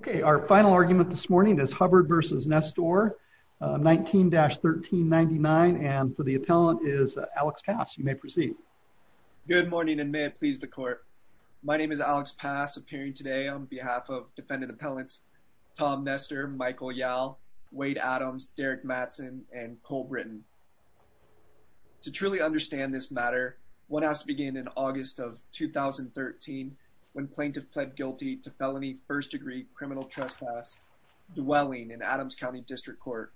Okay, our final argument this morning is Hubbard v. Nestor 19-1399 and for the appellant is Alex Pass. You may proceed. Good morning and may it please the court. My name is Alex Pass appearing today on behalf of defendant appellants Tom Nestor, Michael Yall, Wade Adams, Derek Mattson, and Cole Britton. To truly understand this matter, one has to begin in August of 2013 when plaintiff pled guilty to felony first-degree criminal trespass dwelling in Adams County District Court.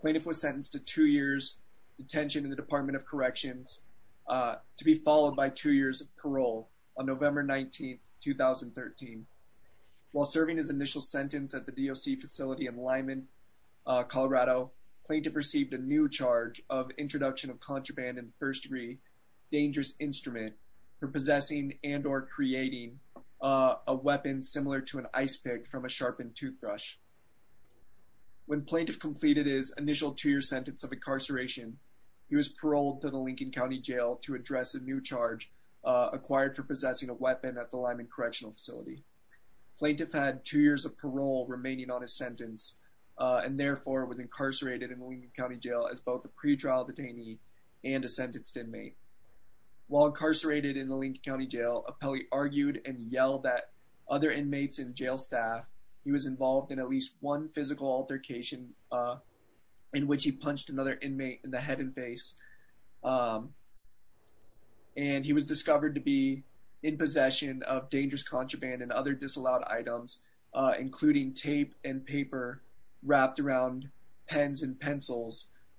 Plaintiff was sentenced to two years detention in the Department of Corrections to be followed by two years of parole on November 19, 2013. While serving his initial sentence at the DOC facility in Lyman, Colorado, plaintiff received a new charge of introduction of contraband in first degree dangerous instrument for possessing and or creating a weapon similar to an ice pick from a sharpened toothbrush. When plaintiff completed his initial two-year sentence of incarceration, he was paroled to the Lincoln County Jail to address a new charge acquired for possessing a weapon at the Lyman Correctional Facility. Plaintiff had two years of parole remaining on his sentence and therefore was incarcerated in Lincoln County Jail as both a pretrial detainee and a sentenced inmate. While incarcerated in the Lincoln County Jail, Appelli argued and yelled at other inmates and jail staff. He was involved in at least one physical altercation in which he punched another inmate in the head and face and he was discovered to be in possession of dangerous contraband and other disallowed items including tape and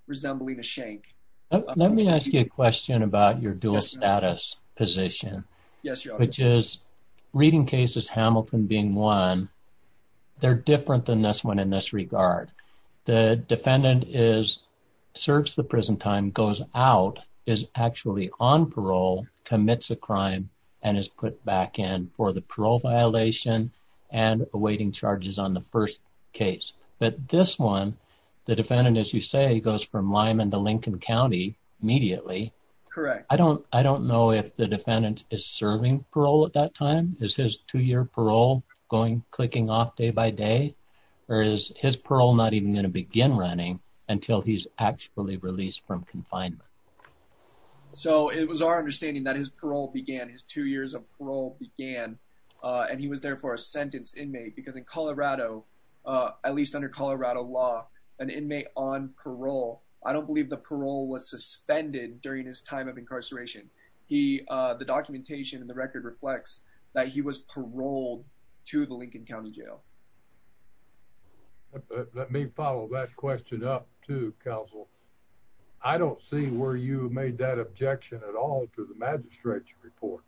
resembling a shank. Let me ask you a question about your dual status position. Which is reading cases, Hamilton being one, they're different than this one in this regard. The defendant is serves the prison time, goes out, is actually on parole, commits a crime and is put back in for the parole violation and awaiting charges on the first case. But this one, the defendant as you say goes from Lyman to Lincoln County immediately. Correct. I don't I don't know if the defendant is serving parole at that time. Is his two-year parole going clicking off day by day or is his parole not even going to begin running until he's actually released from confinement? So it was our understanding that his parole began, his two years of parole began and he was there for a sentenced inmate because in Colorado, at least under Colorado law, an inmate on parole. I don't believe the parole was suspended during his time of incarceration. He the documentation and the record reflects that he was paroled to the Lincoln County Jail. Let me follow that question up to counsel. I don't see where you made that objection at all to the magistrate's report.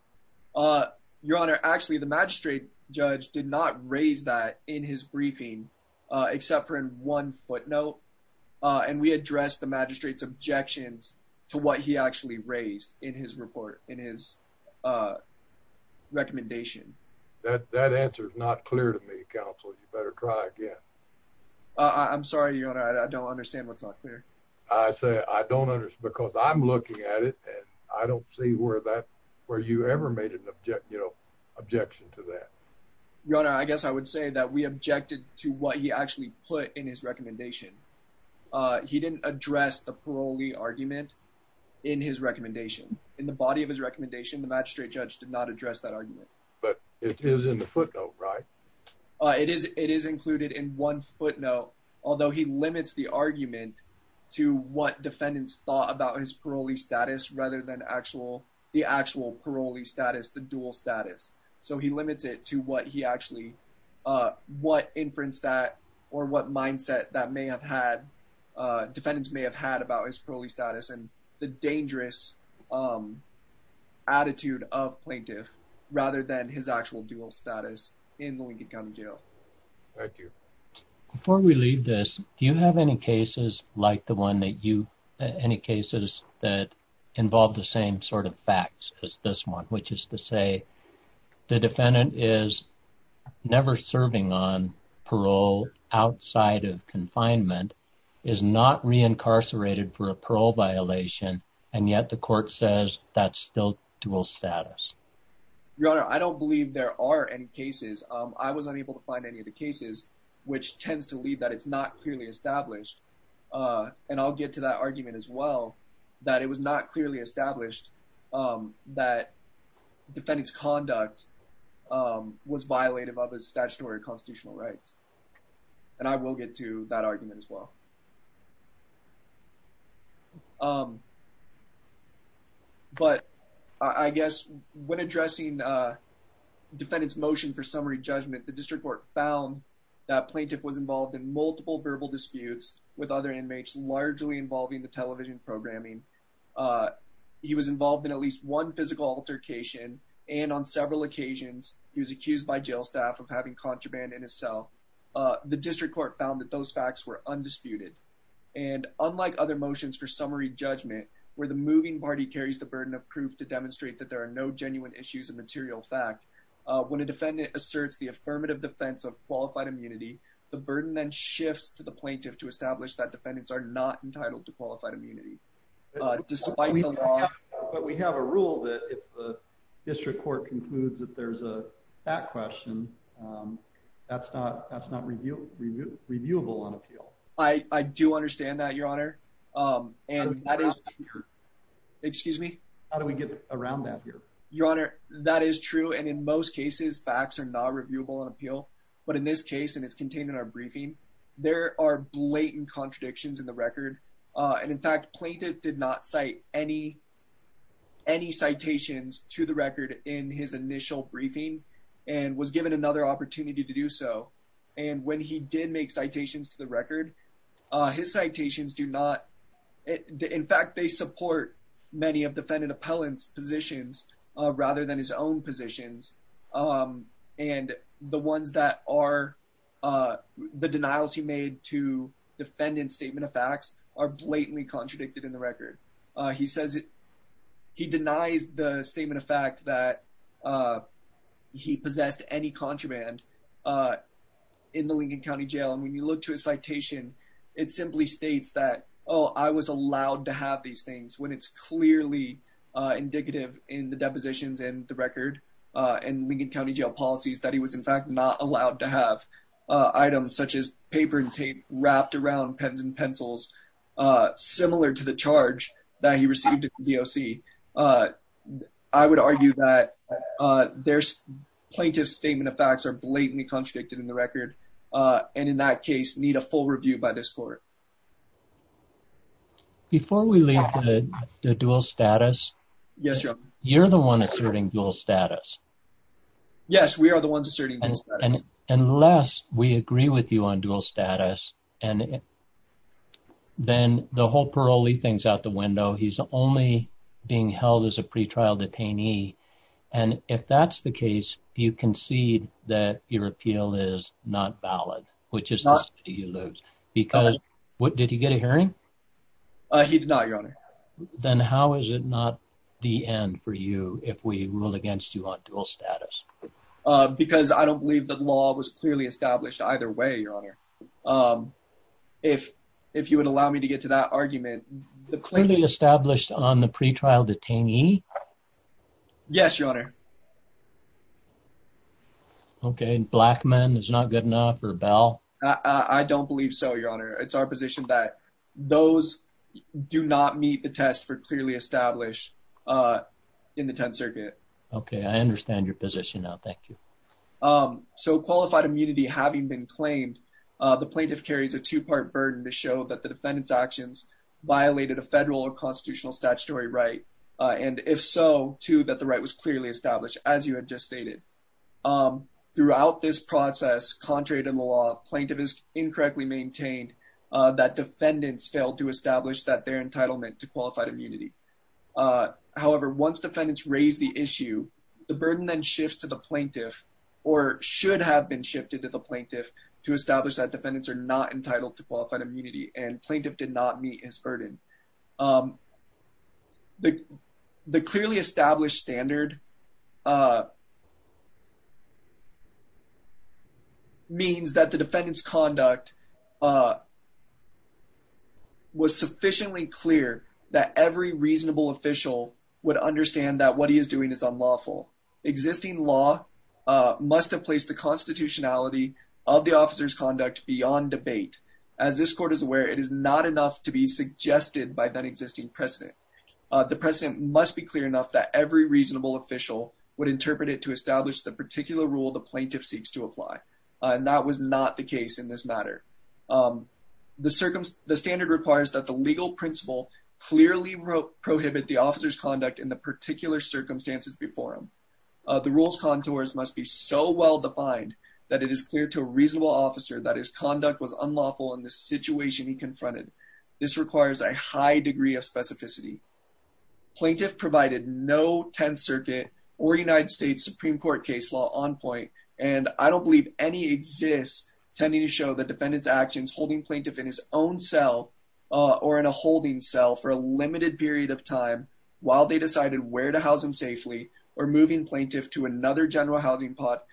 Your honor, actually the magistrate judge did not raise that in his briefing except for in one footnote and we addressed the magistrate's objections to what he actually raised in his report, in his recommendation. That that answer is not clear to me, counsel. You better try again. I'm sorry, your honor. I don't understand what's not clear. I say I don't understand because I'm looking at it and I don't see where that where you ever made an object, you know, objection to that, your honor. I guess I would say that we objected to what he actually put in his recommendation. Uh, he didn't address the parolee argument in his recommendation in the body of his recommendation. The magistrate judge did not address that argument, but it is in the footnote, right? It is. It is included in one footnote, although he limits the argument to what defendants thought about his parolee status rather than actual, the actual parolee status, the dual status. So he limits it to what he actually, uh, what inference that or what mindset that may have had, uh, defendants may have had about his parolee status and the dangerous, um, attitude of plaintiff rather than his actual dual status in Lincoln County jail. Thank you. Before we leave this, do you have any cases like the one that you, any cases that involve the same sort of facts as this one, which is to say the defendant is never serving on parole outside of confinement, is not reincarcerated for a parole violation. And yet the court says that's still dual status. Your honor, I don't believe there are any cases. I was unable to find any of the cases, which tends to lead that it's not clearly established. Uh, and I'll get to that argument as well, that it was not clearly established, um, that defendants conduct, um, was violated by the statutory constitutional rights. And I will get to that argument as well. Um, but I guess when addressing, uh, defendants motion for summary judgment, the district court found that plaintiff was involved in multiple verbal disputes with other inmates, largely involving the television programming. Uh, he was involved in at least one physical altercation, and on several occasions he was accused by jail staff of having contraband in his cell. Uh, the district court found that those facts were undisputed and unlike other motions for summary judgment, where the moving party carries the burden of proof to demonstrate that there are no genuine issues of material fact when a affirmative defense of qualified immunity, the burden then shifts to the plaintiff to establish that defendants are not entitled to qualified immunity. Uh, despite the law, we have a rule that if the district court concludes that there's a back question, um, that's not that's not review. Reviewable on appeal. I do understand that, Your Honor. Um, and that is, excuse me. How do we get around that here, Your Honor? That is true. And in most cases, facts are not reviewable on appeal. But in this case, and it's contained in our briefing, there are blatant contradictions in the record. Uh, and in fact, plaintiff did not cite any any citations to the record in his initial briefing and was given another opportunity to do so. And when he did make citations to the record, his citations do not. In fact, they support many of defendant appellants positions rather than his own positions. Um, and the ones that are, uh, the denials he made to defendant statement of facts are blatantly contradicted in the record. He says he denies the statement of fact that, uh, he possessed any contraband, uh, in the Lincoln County jail. And when you look to a citation, it simply states that, Oh, I was allowed to have these things when it's clearly indicative in the depositions and the record on Lincoln County jail policies that he was, in fact, not allowed to have items such as paper and tape wrapped around pens and pencils. Uh, similar to the charge that he received the O. C. Uh, I would argue that, uh, there's plaintiff's statement of facts are blatantly contradicted in the record. Uh, and in that case need a full review by this court before we leave the dual status. Yes. You're the one asserting dual status. Yes, we are the ones asserting unless we agree with you on dual status. And then the whole parolee things out the window. He's only being held as a pretrial detainee. And if that's the case, you concede that your appeal is not valid, which is not you lose. Because what? Did you get a hearing? He did not, Your Honor. Then how is it not the end for you if we ruled against you on dual status? Because I don't believe that law was clearly established either way, Your Honor. Um, if if you would allow me to get to that argument, the clearly established on the pretrial detainee. Yes, Your Honor. Okay. Black man is not good enough for a bell. I don't believe so, Your Honor. It's our position that those do not meet the test for clearly established, uh, in the 10th Circuit. Okay, I understand your position now. Thank you. Um, so qualified immunity having been claimed, the plaintiff carries a two part burden to show that the defendant's actions violated a federal or constitutional statutory right. And if so, to that, the right was clearly established. As you had just stated, um, throughout this process, contrary to the law, plaintiff is incorrectly maintained that defendants failed to establish that their entitlement to qualified immunity. Uh, however, once defendants raised the issue, the burden then shifts to the plaintiff or should have been shifted to the plaintiff to establish that defendants are not entitled to qualified immunity and plaintiff did not meet his burden. Um, the the clearly established standard, uh, means that the defendant's conduct, uh, was sufficiently clear that every reasonable official would understand that what he is doing is unlawful. Existing law, uh, must have placed the constitutionality of the officer's conduct beyond debate. As this court is the president must be clear enough that every reasonable official would interpret it to establish the particular rule the plaintiff seeks to apply. And that was not the case in this matter. Um, the circumstance, the standard requires that the legal principle clearly prohibit the officer's conduct in the particular circumstances before him. The rules contours must be so well defined that it is clear to a reasonable officer that his conduct was unlawful in the situation he confronted. This requires a high degree of specificity. Plaintiff provided no 10th Circuit or United States Supreme Court case law on point. And I don't believe any exists tending to show the defendant's actions holding plaintiff in his own cell or in a holding cell for a limited period of time while they decided where to house him safely or moving plaintiff to another general housing pot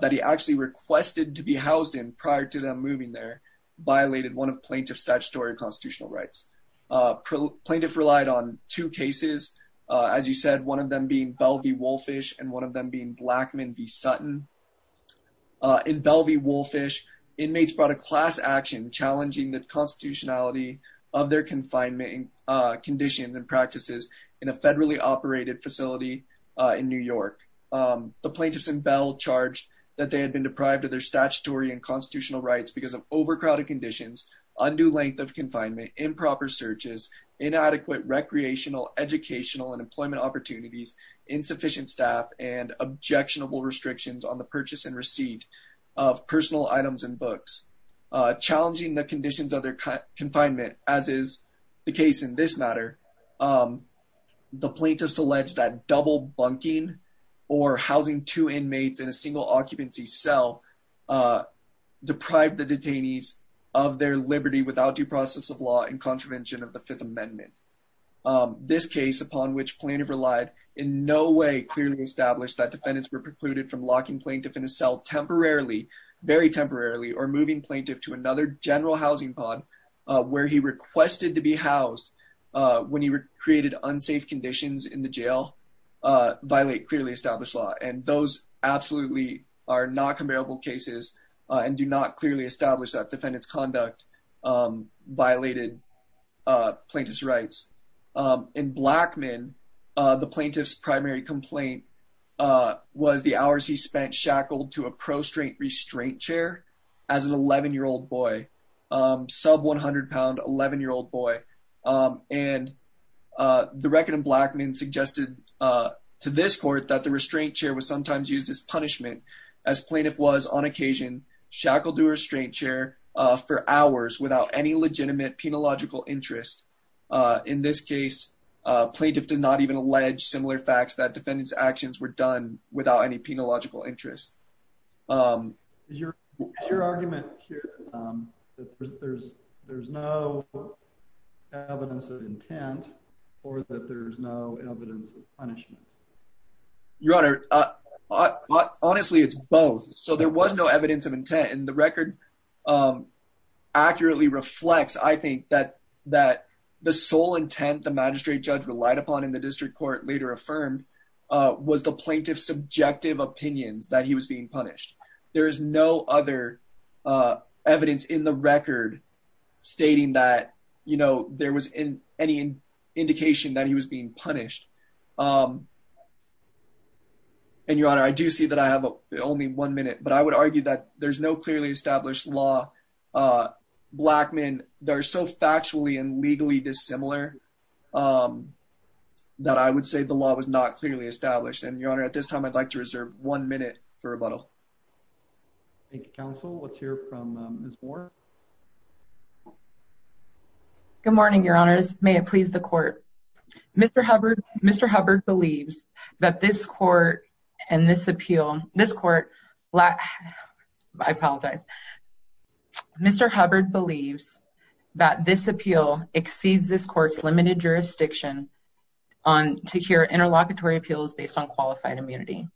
that he actually requested to be housed in prior to them moving there violated one plaintiff's statutory constitutional rights. Uh, plaintiff relied on two cases, as you said, one of them being Bell v. Wolfish and one of them being Blackman v. Sutton. Uh, in Bell v. Wolfish, inmates brought a class action challenging the constitutionality of their confinement conditions and practices in a federally operated facility in New York. Um, the plaintiffs and Bell charged that they had been deprived of their statutory and undue length of confinement, improper searches, inadequate recreational, educational and employment opportunities, insufficient staff and objectionable restrictions on the purchase and receipt of personal items and books challenging the conditions of their confinement, as is the case in this matter. Um, the plaintiff's alleged that double bunking or housing two inmates in a single occupancy cell, uh, deprived the detainees of their liberty without due process of law and contravention of the Fifth Amendment. Um, this case, upon which plaintiff relied in no way clearly established that defendants were precluded from locking plaintiff in a cell temporarily, very temporarily or moving plaintiff to another general housing pod where he requested to be housed when he created unsafe conditions in the jail, uh, violate clearly established law. And those absolutely are not comparable cases on do not clearly establish that defendants conduct, um, violated plaintiff's rights in Blackman. The plaintiff's primary complaint, uh, was the hours he spent shackled to a prostrate restraint chair as an 11 year old boy, um, sub £100 11 year old boy. Um, and, uh, the record of Blackman suggested, uh, to this court that the restraint chair was sometimes used as plaintiff was on occasion shackled to restraint chair for hours without any legitimate penological interest. Uh, in this case, plaintiff did not even allege similar facts that defendants actions were done without any penological interest. Um, your argument here, um, there's there's no evidence of intent or that there's no evidence of punishment. Your Honor, honestly, it's both. So there was no evidence of intent in the record. Um, accurately reflects. I think that that the sole intent the magistrate judge relied upon in the district court later affirmed was the plaintiff's subjective opinions that he was being punished. There is no other, uh, evidence in the record stating that, you know, there was in any indication that he was being punished. Um, and your honor, I do see that I have only one minute, but I would argue that there's no clearly established law. Uh, black men, they're so factually and legally dissimilar. Um, that I would say the law was not clearly established. And your honor, at this time, I'd like to reserve one minute for rebuttal. Thank you, counsel. Let's hear from Miss Moore. Good morning, your honors. May it please the court. Mr Hubbard. Mr Hubbard believes that this court and this appeal, this court black. I apologize. Mr Hubbard believes that this appeal exceeds this court's limited jurisdiction on to hear interlocutory appeals based on qualified immunity.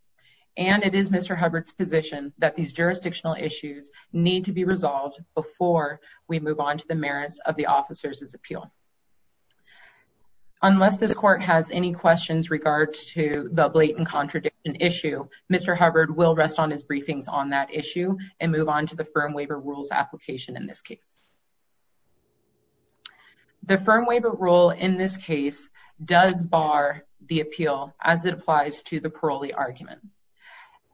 And it is Mr Hubbard's position that these jurisdictional issues need to be addressed before we move on to the merits of the officer's appeal. Unless this court has any questions regards to the blatant contradiction issue, Mr Hubbard will rest on his briefings on that issue and move on to the firm waiver rules application. In this case, the firm waiver rule in this case does bar the appeal as it applies to the parolee argument.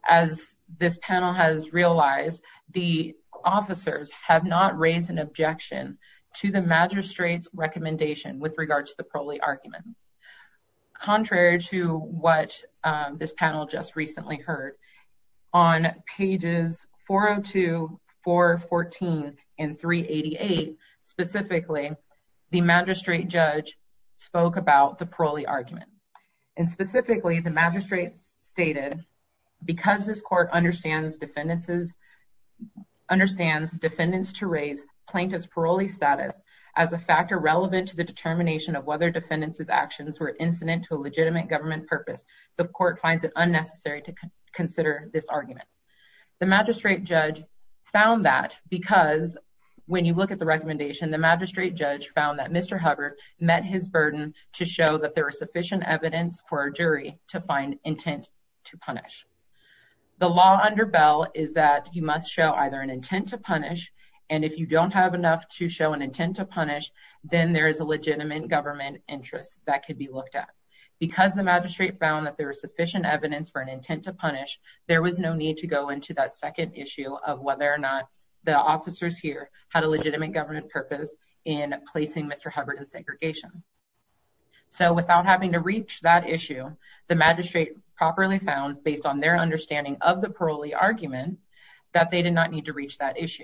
As this panel has realized, the officers have not raised an objection to the magistrate's recommendation with regards to the parolee argument. Contrary to what this panel just recently heard on pages 402414 and 388 specifically, the magistrate judge spoke about the parolee argument and specifically the court understands defendants to raise plaintiff's parolee status as a factor relevant to the determination of whether defendants' actions were incident to a legitimate government purpose. The court finds it unnecessary to consider this argument. The magistrate judge found that because when you look at the recommendation, the magistrate judge found that Mr Hubbard met his burden to show that there was sufficient evidence for a jury to find intent to punish. The law under Bell is that you must show either an intent to punish and if you don't have enough to show an intent to punish, then there is a legitimate government interest that could be looked at. Because the magistrate found that there was sufficient evidence for an intent to punish, there was no need to go into that second issue of whether or not the officers here had a legitimate government purpose in placing Mr Hubbard in segregation. So without having to their understanding of the parolee argument that they did not need to reach that issue.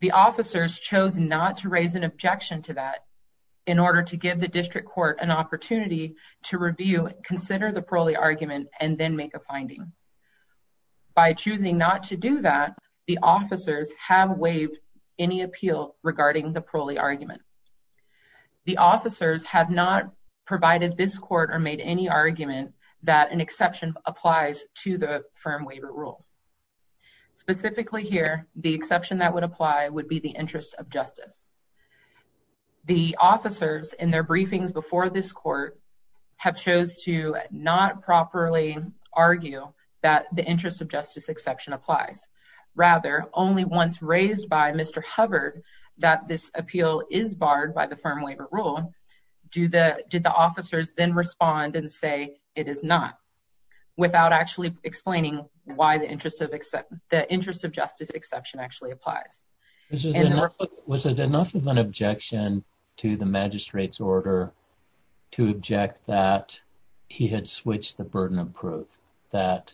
The officers chose not to raise an objection to that in order to give the district court an opportunity to review, consider the parolee argument and then make a finding. By choosing not to do that, the officers have waived any appeal regarding the parolee argument. The officers have not provided this to the firm waiver rule. Specifically here, the exception that would apply would be the interest of justice. The officers in their briefings before this court have chose to not properly argue that the interest of justice exception applies. Rather, only once raised by Mr Hubbard that this appeal is barred by the firm waiver rule. Do the did the officers then respond and say it is not without actually explaining why the interest of the interest of justice exception actually applies? Was it enough of an objection to the magistrate's order to object that he had switched the burden of proof that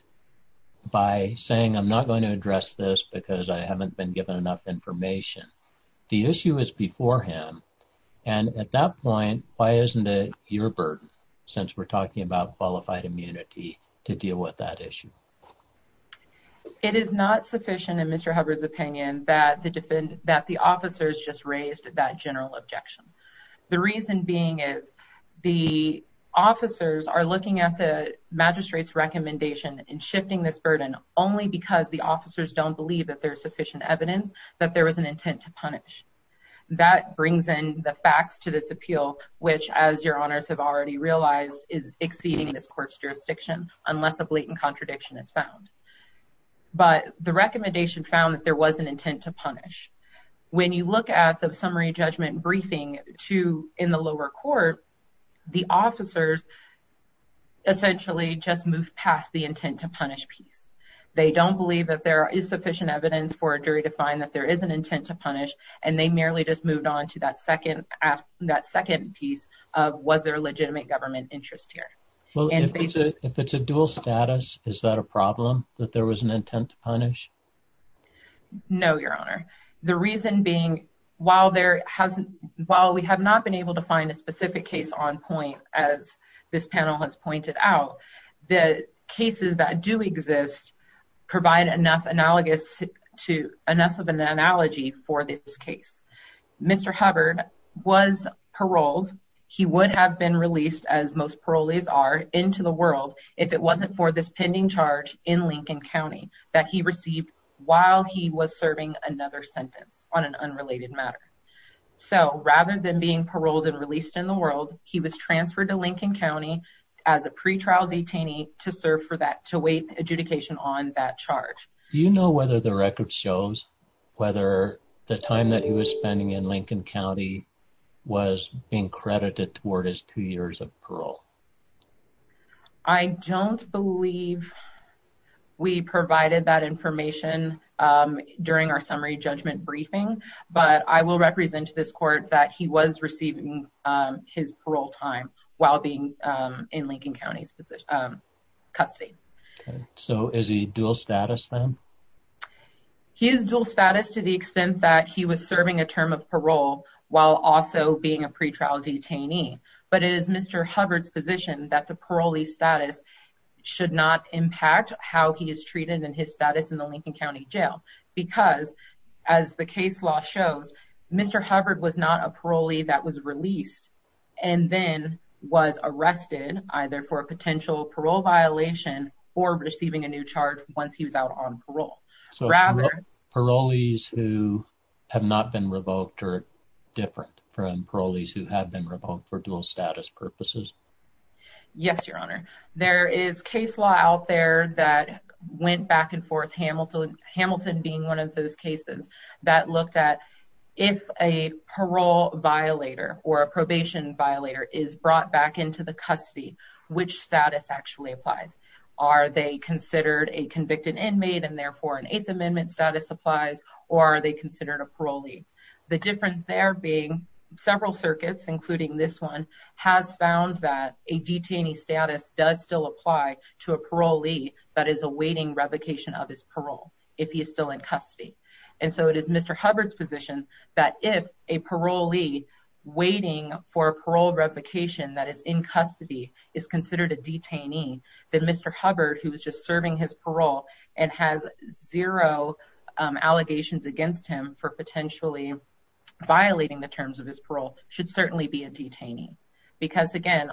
by saying I'm not going to address this because I haven't been given enough information. The issue is beforehand. And at that point, why isn't it your burden? Since we're talking about qualified immunity to deal with that issue, it is not sufficient in Mr Hubbard's opinion that the defend that the officers just raised that general objection. The reason being is the officers are looking at the magistrate's recommendation in shifting this burden only because the officers don't believe that there's sufficient evidence that there was an intent to punish. That brings in the facts to this appeal, which, as your honors have already realized, is exceeding this court's jurisdiction unless a blatant contradiction is found. But the recommendation found that there was an intent to punish. When you look at the summary judgment briefing to in the lower court, the officers essentially just moved past the intent to punish peace. They don't believe that there is sufficient evidence for a jury to find that there is an intent to peace. Was there legitimate government interest here? Well, if it's a dual status, is that a problem that there was an intent to punish? No, your honor. The reason being, while there hasn't while we have not been able to find a specific case on point, as this panel has pointed out, the cases that do exist provide enough analogous to enough of an analogy for this case. Mr Hubbard was paroled. He would have been released, as most parolees are, into the world if it wasn't for this pending charge in Lincoln County that he received while he was serving another sentence on an unrelated matter. So rather than being paroled and released in the world, he was transferred to Lincoln County as a pretrial detainee to serve for that to wait adjudication on that charge. Do you know whether the record shows whether the time that he was spending in Lincoln County was being credited toward his two years of parole? I don't believe we provided that information during our summary judgment briefing, but I will represent to this court that he was receiving his parole time while being in Lincoln County's position, um, custody. So is he dual status then? He is dual status to the extent that he was serving a term of parole while also being a pretrial detainee. But it is Mr Hubbard's position that the parolee status should not impact how he is treated in his status in the Lincoln County Jail because, as the case law shows, Mr Hubbard was not a parolee that was released and then was arrested either for a potential parole violation or receiving a new charge once he was out on parole. So parolees who have not been revoked are different from parolees who have been revoked for dual status purposes? Yes, Your Honor. There is case law out there that went back and forth. Hamilton, Hamilton being one of those cases that looked at if a parole violator or a probation violator is brought back into the custody, which status actually applies? Are they considered a convicted inmate and therefore an Eighth Amendment status applies? Or are they considered a parolee? The difference there being several circuits, including this one, has found that a detainee status does still apply to a parolee that is awaiting revocation of his parole if he is still in custody. And so it is Mr Hubbard's position that if a parolee awaiting for parole revocation that is in custody is considered a detainee, that Mr Hubbard, who was just serving his parole and has zero allegations against him for potentially violating the terms of his parole, should certainly be a detainee. Because again,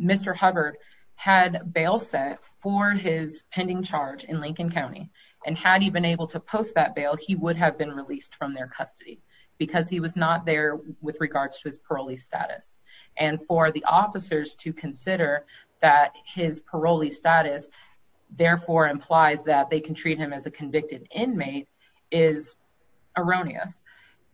Mr Hubbard had bail set for his pending charge in Lincoln County. And had he been able to post that bail, he would have been released from their custody because he was not there with regards to his parolee status. And for the officers to consider that his parolee status therefore implies that they can treat him as a convicted inmate is erroneous.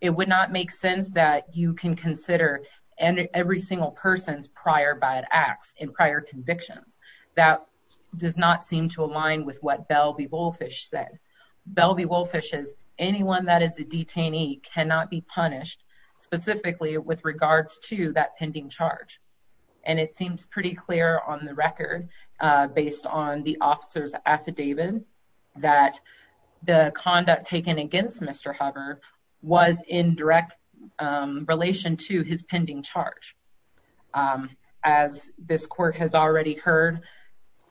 It would not make sense that you can consider every single person's prior bad acts in prior convictions. That does not seem to align with what Bell v. Woolfish said. Bell v. Woolfish says anyone that is a detainee cannot be punished specifically with regards to that pending charge. And it seems pretty clear on the record based on the officer's affidavit that the conduct taken against Mr Hubbard was in direct relation to his pending charge. As this court has already heard,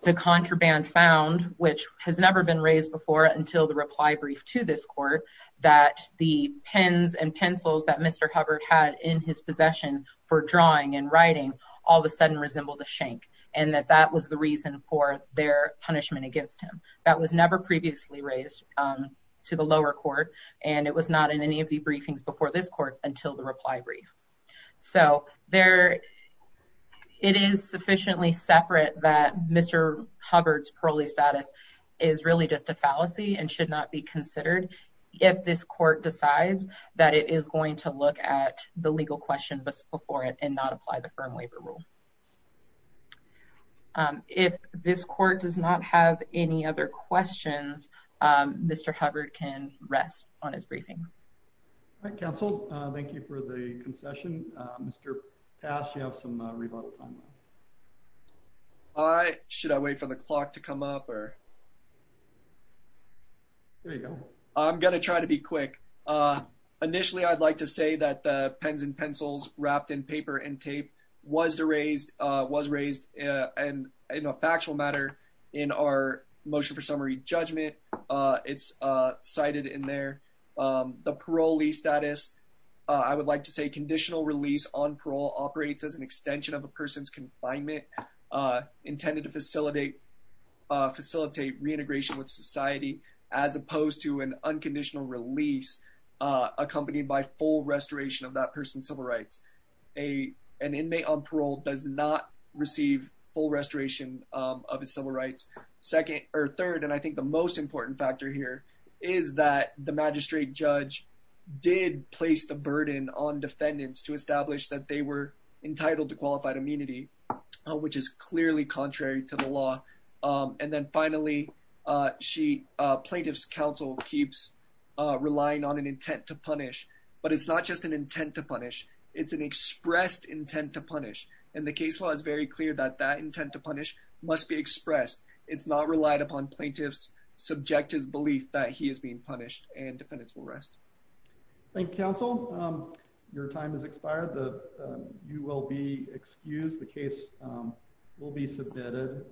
the contraband found, which has never been raised before until the reply brief to this court, that the pens and pencils that Mr Hubbard had in his possession for drawing and writing all of a sudden resembled a shank. And that that was the reason for their punishment against him. That was never previously raised to the lower court. And it was not in any of the briefings before this court until the reply brief. So it is policy and should not be considered if this court decides that it is going to look at the legal question before it and not apply the firm waiver rule. Um, if this court does not have any other questions, Mr Hubbard can rest on his briefings. All right, Council. Thank you for the concession. Mr Past, you have some rebuttal time. All right. Should I wait for the clock to come up or there you go. I'm gonna try to be quick. Uh, initially, I'd like to say that the pens and pencils wrapped in paper and tape was erased was raised on a factual matter in our motion for summary judgment. It's cited in there. Um, the parolee status. I would like to say conditional release on parole operates as an extension of a person's confinement intended to facilitate facilitate reintegration with society as opposed to an unconditional release accompanied by full restoration of that person's civil rights. A an inmate on parole does not receive full restoration of his civil rights. Second or third. And I think the most important factor here is that the magistrate judge did place the burden on defendants to establish that they were entitled to and then finally, she plaintiff's counsel keeps relying on an intent to punish. But it's not just an intent to punish. It's an expressed intent to punish. And the case law is very clear that that intent to punish must be expressed. It's not relied upon plaintiff's subjective belief that he is being punished and defendants will rest. Thank you, Council. Your time is expired. The you will be excused. The case will be submitted.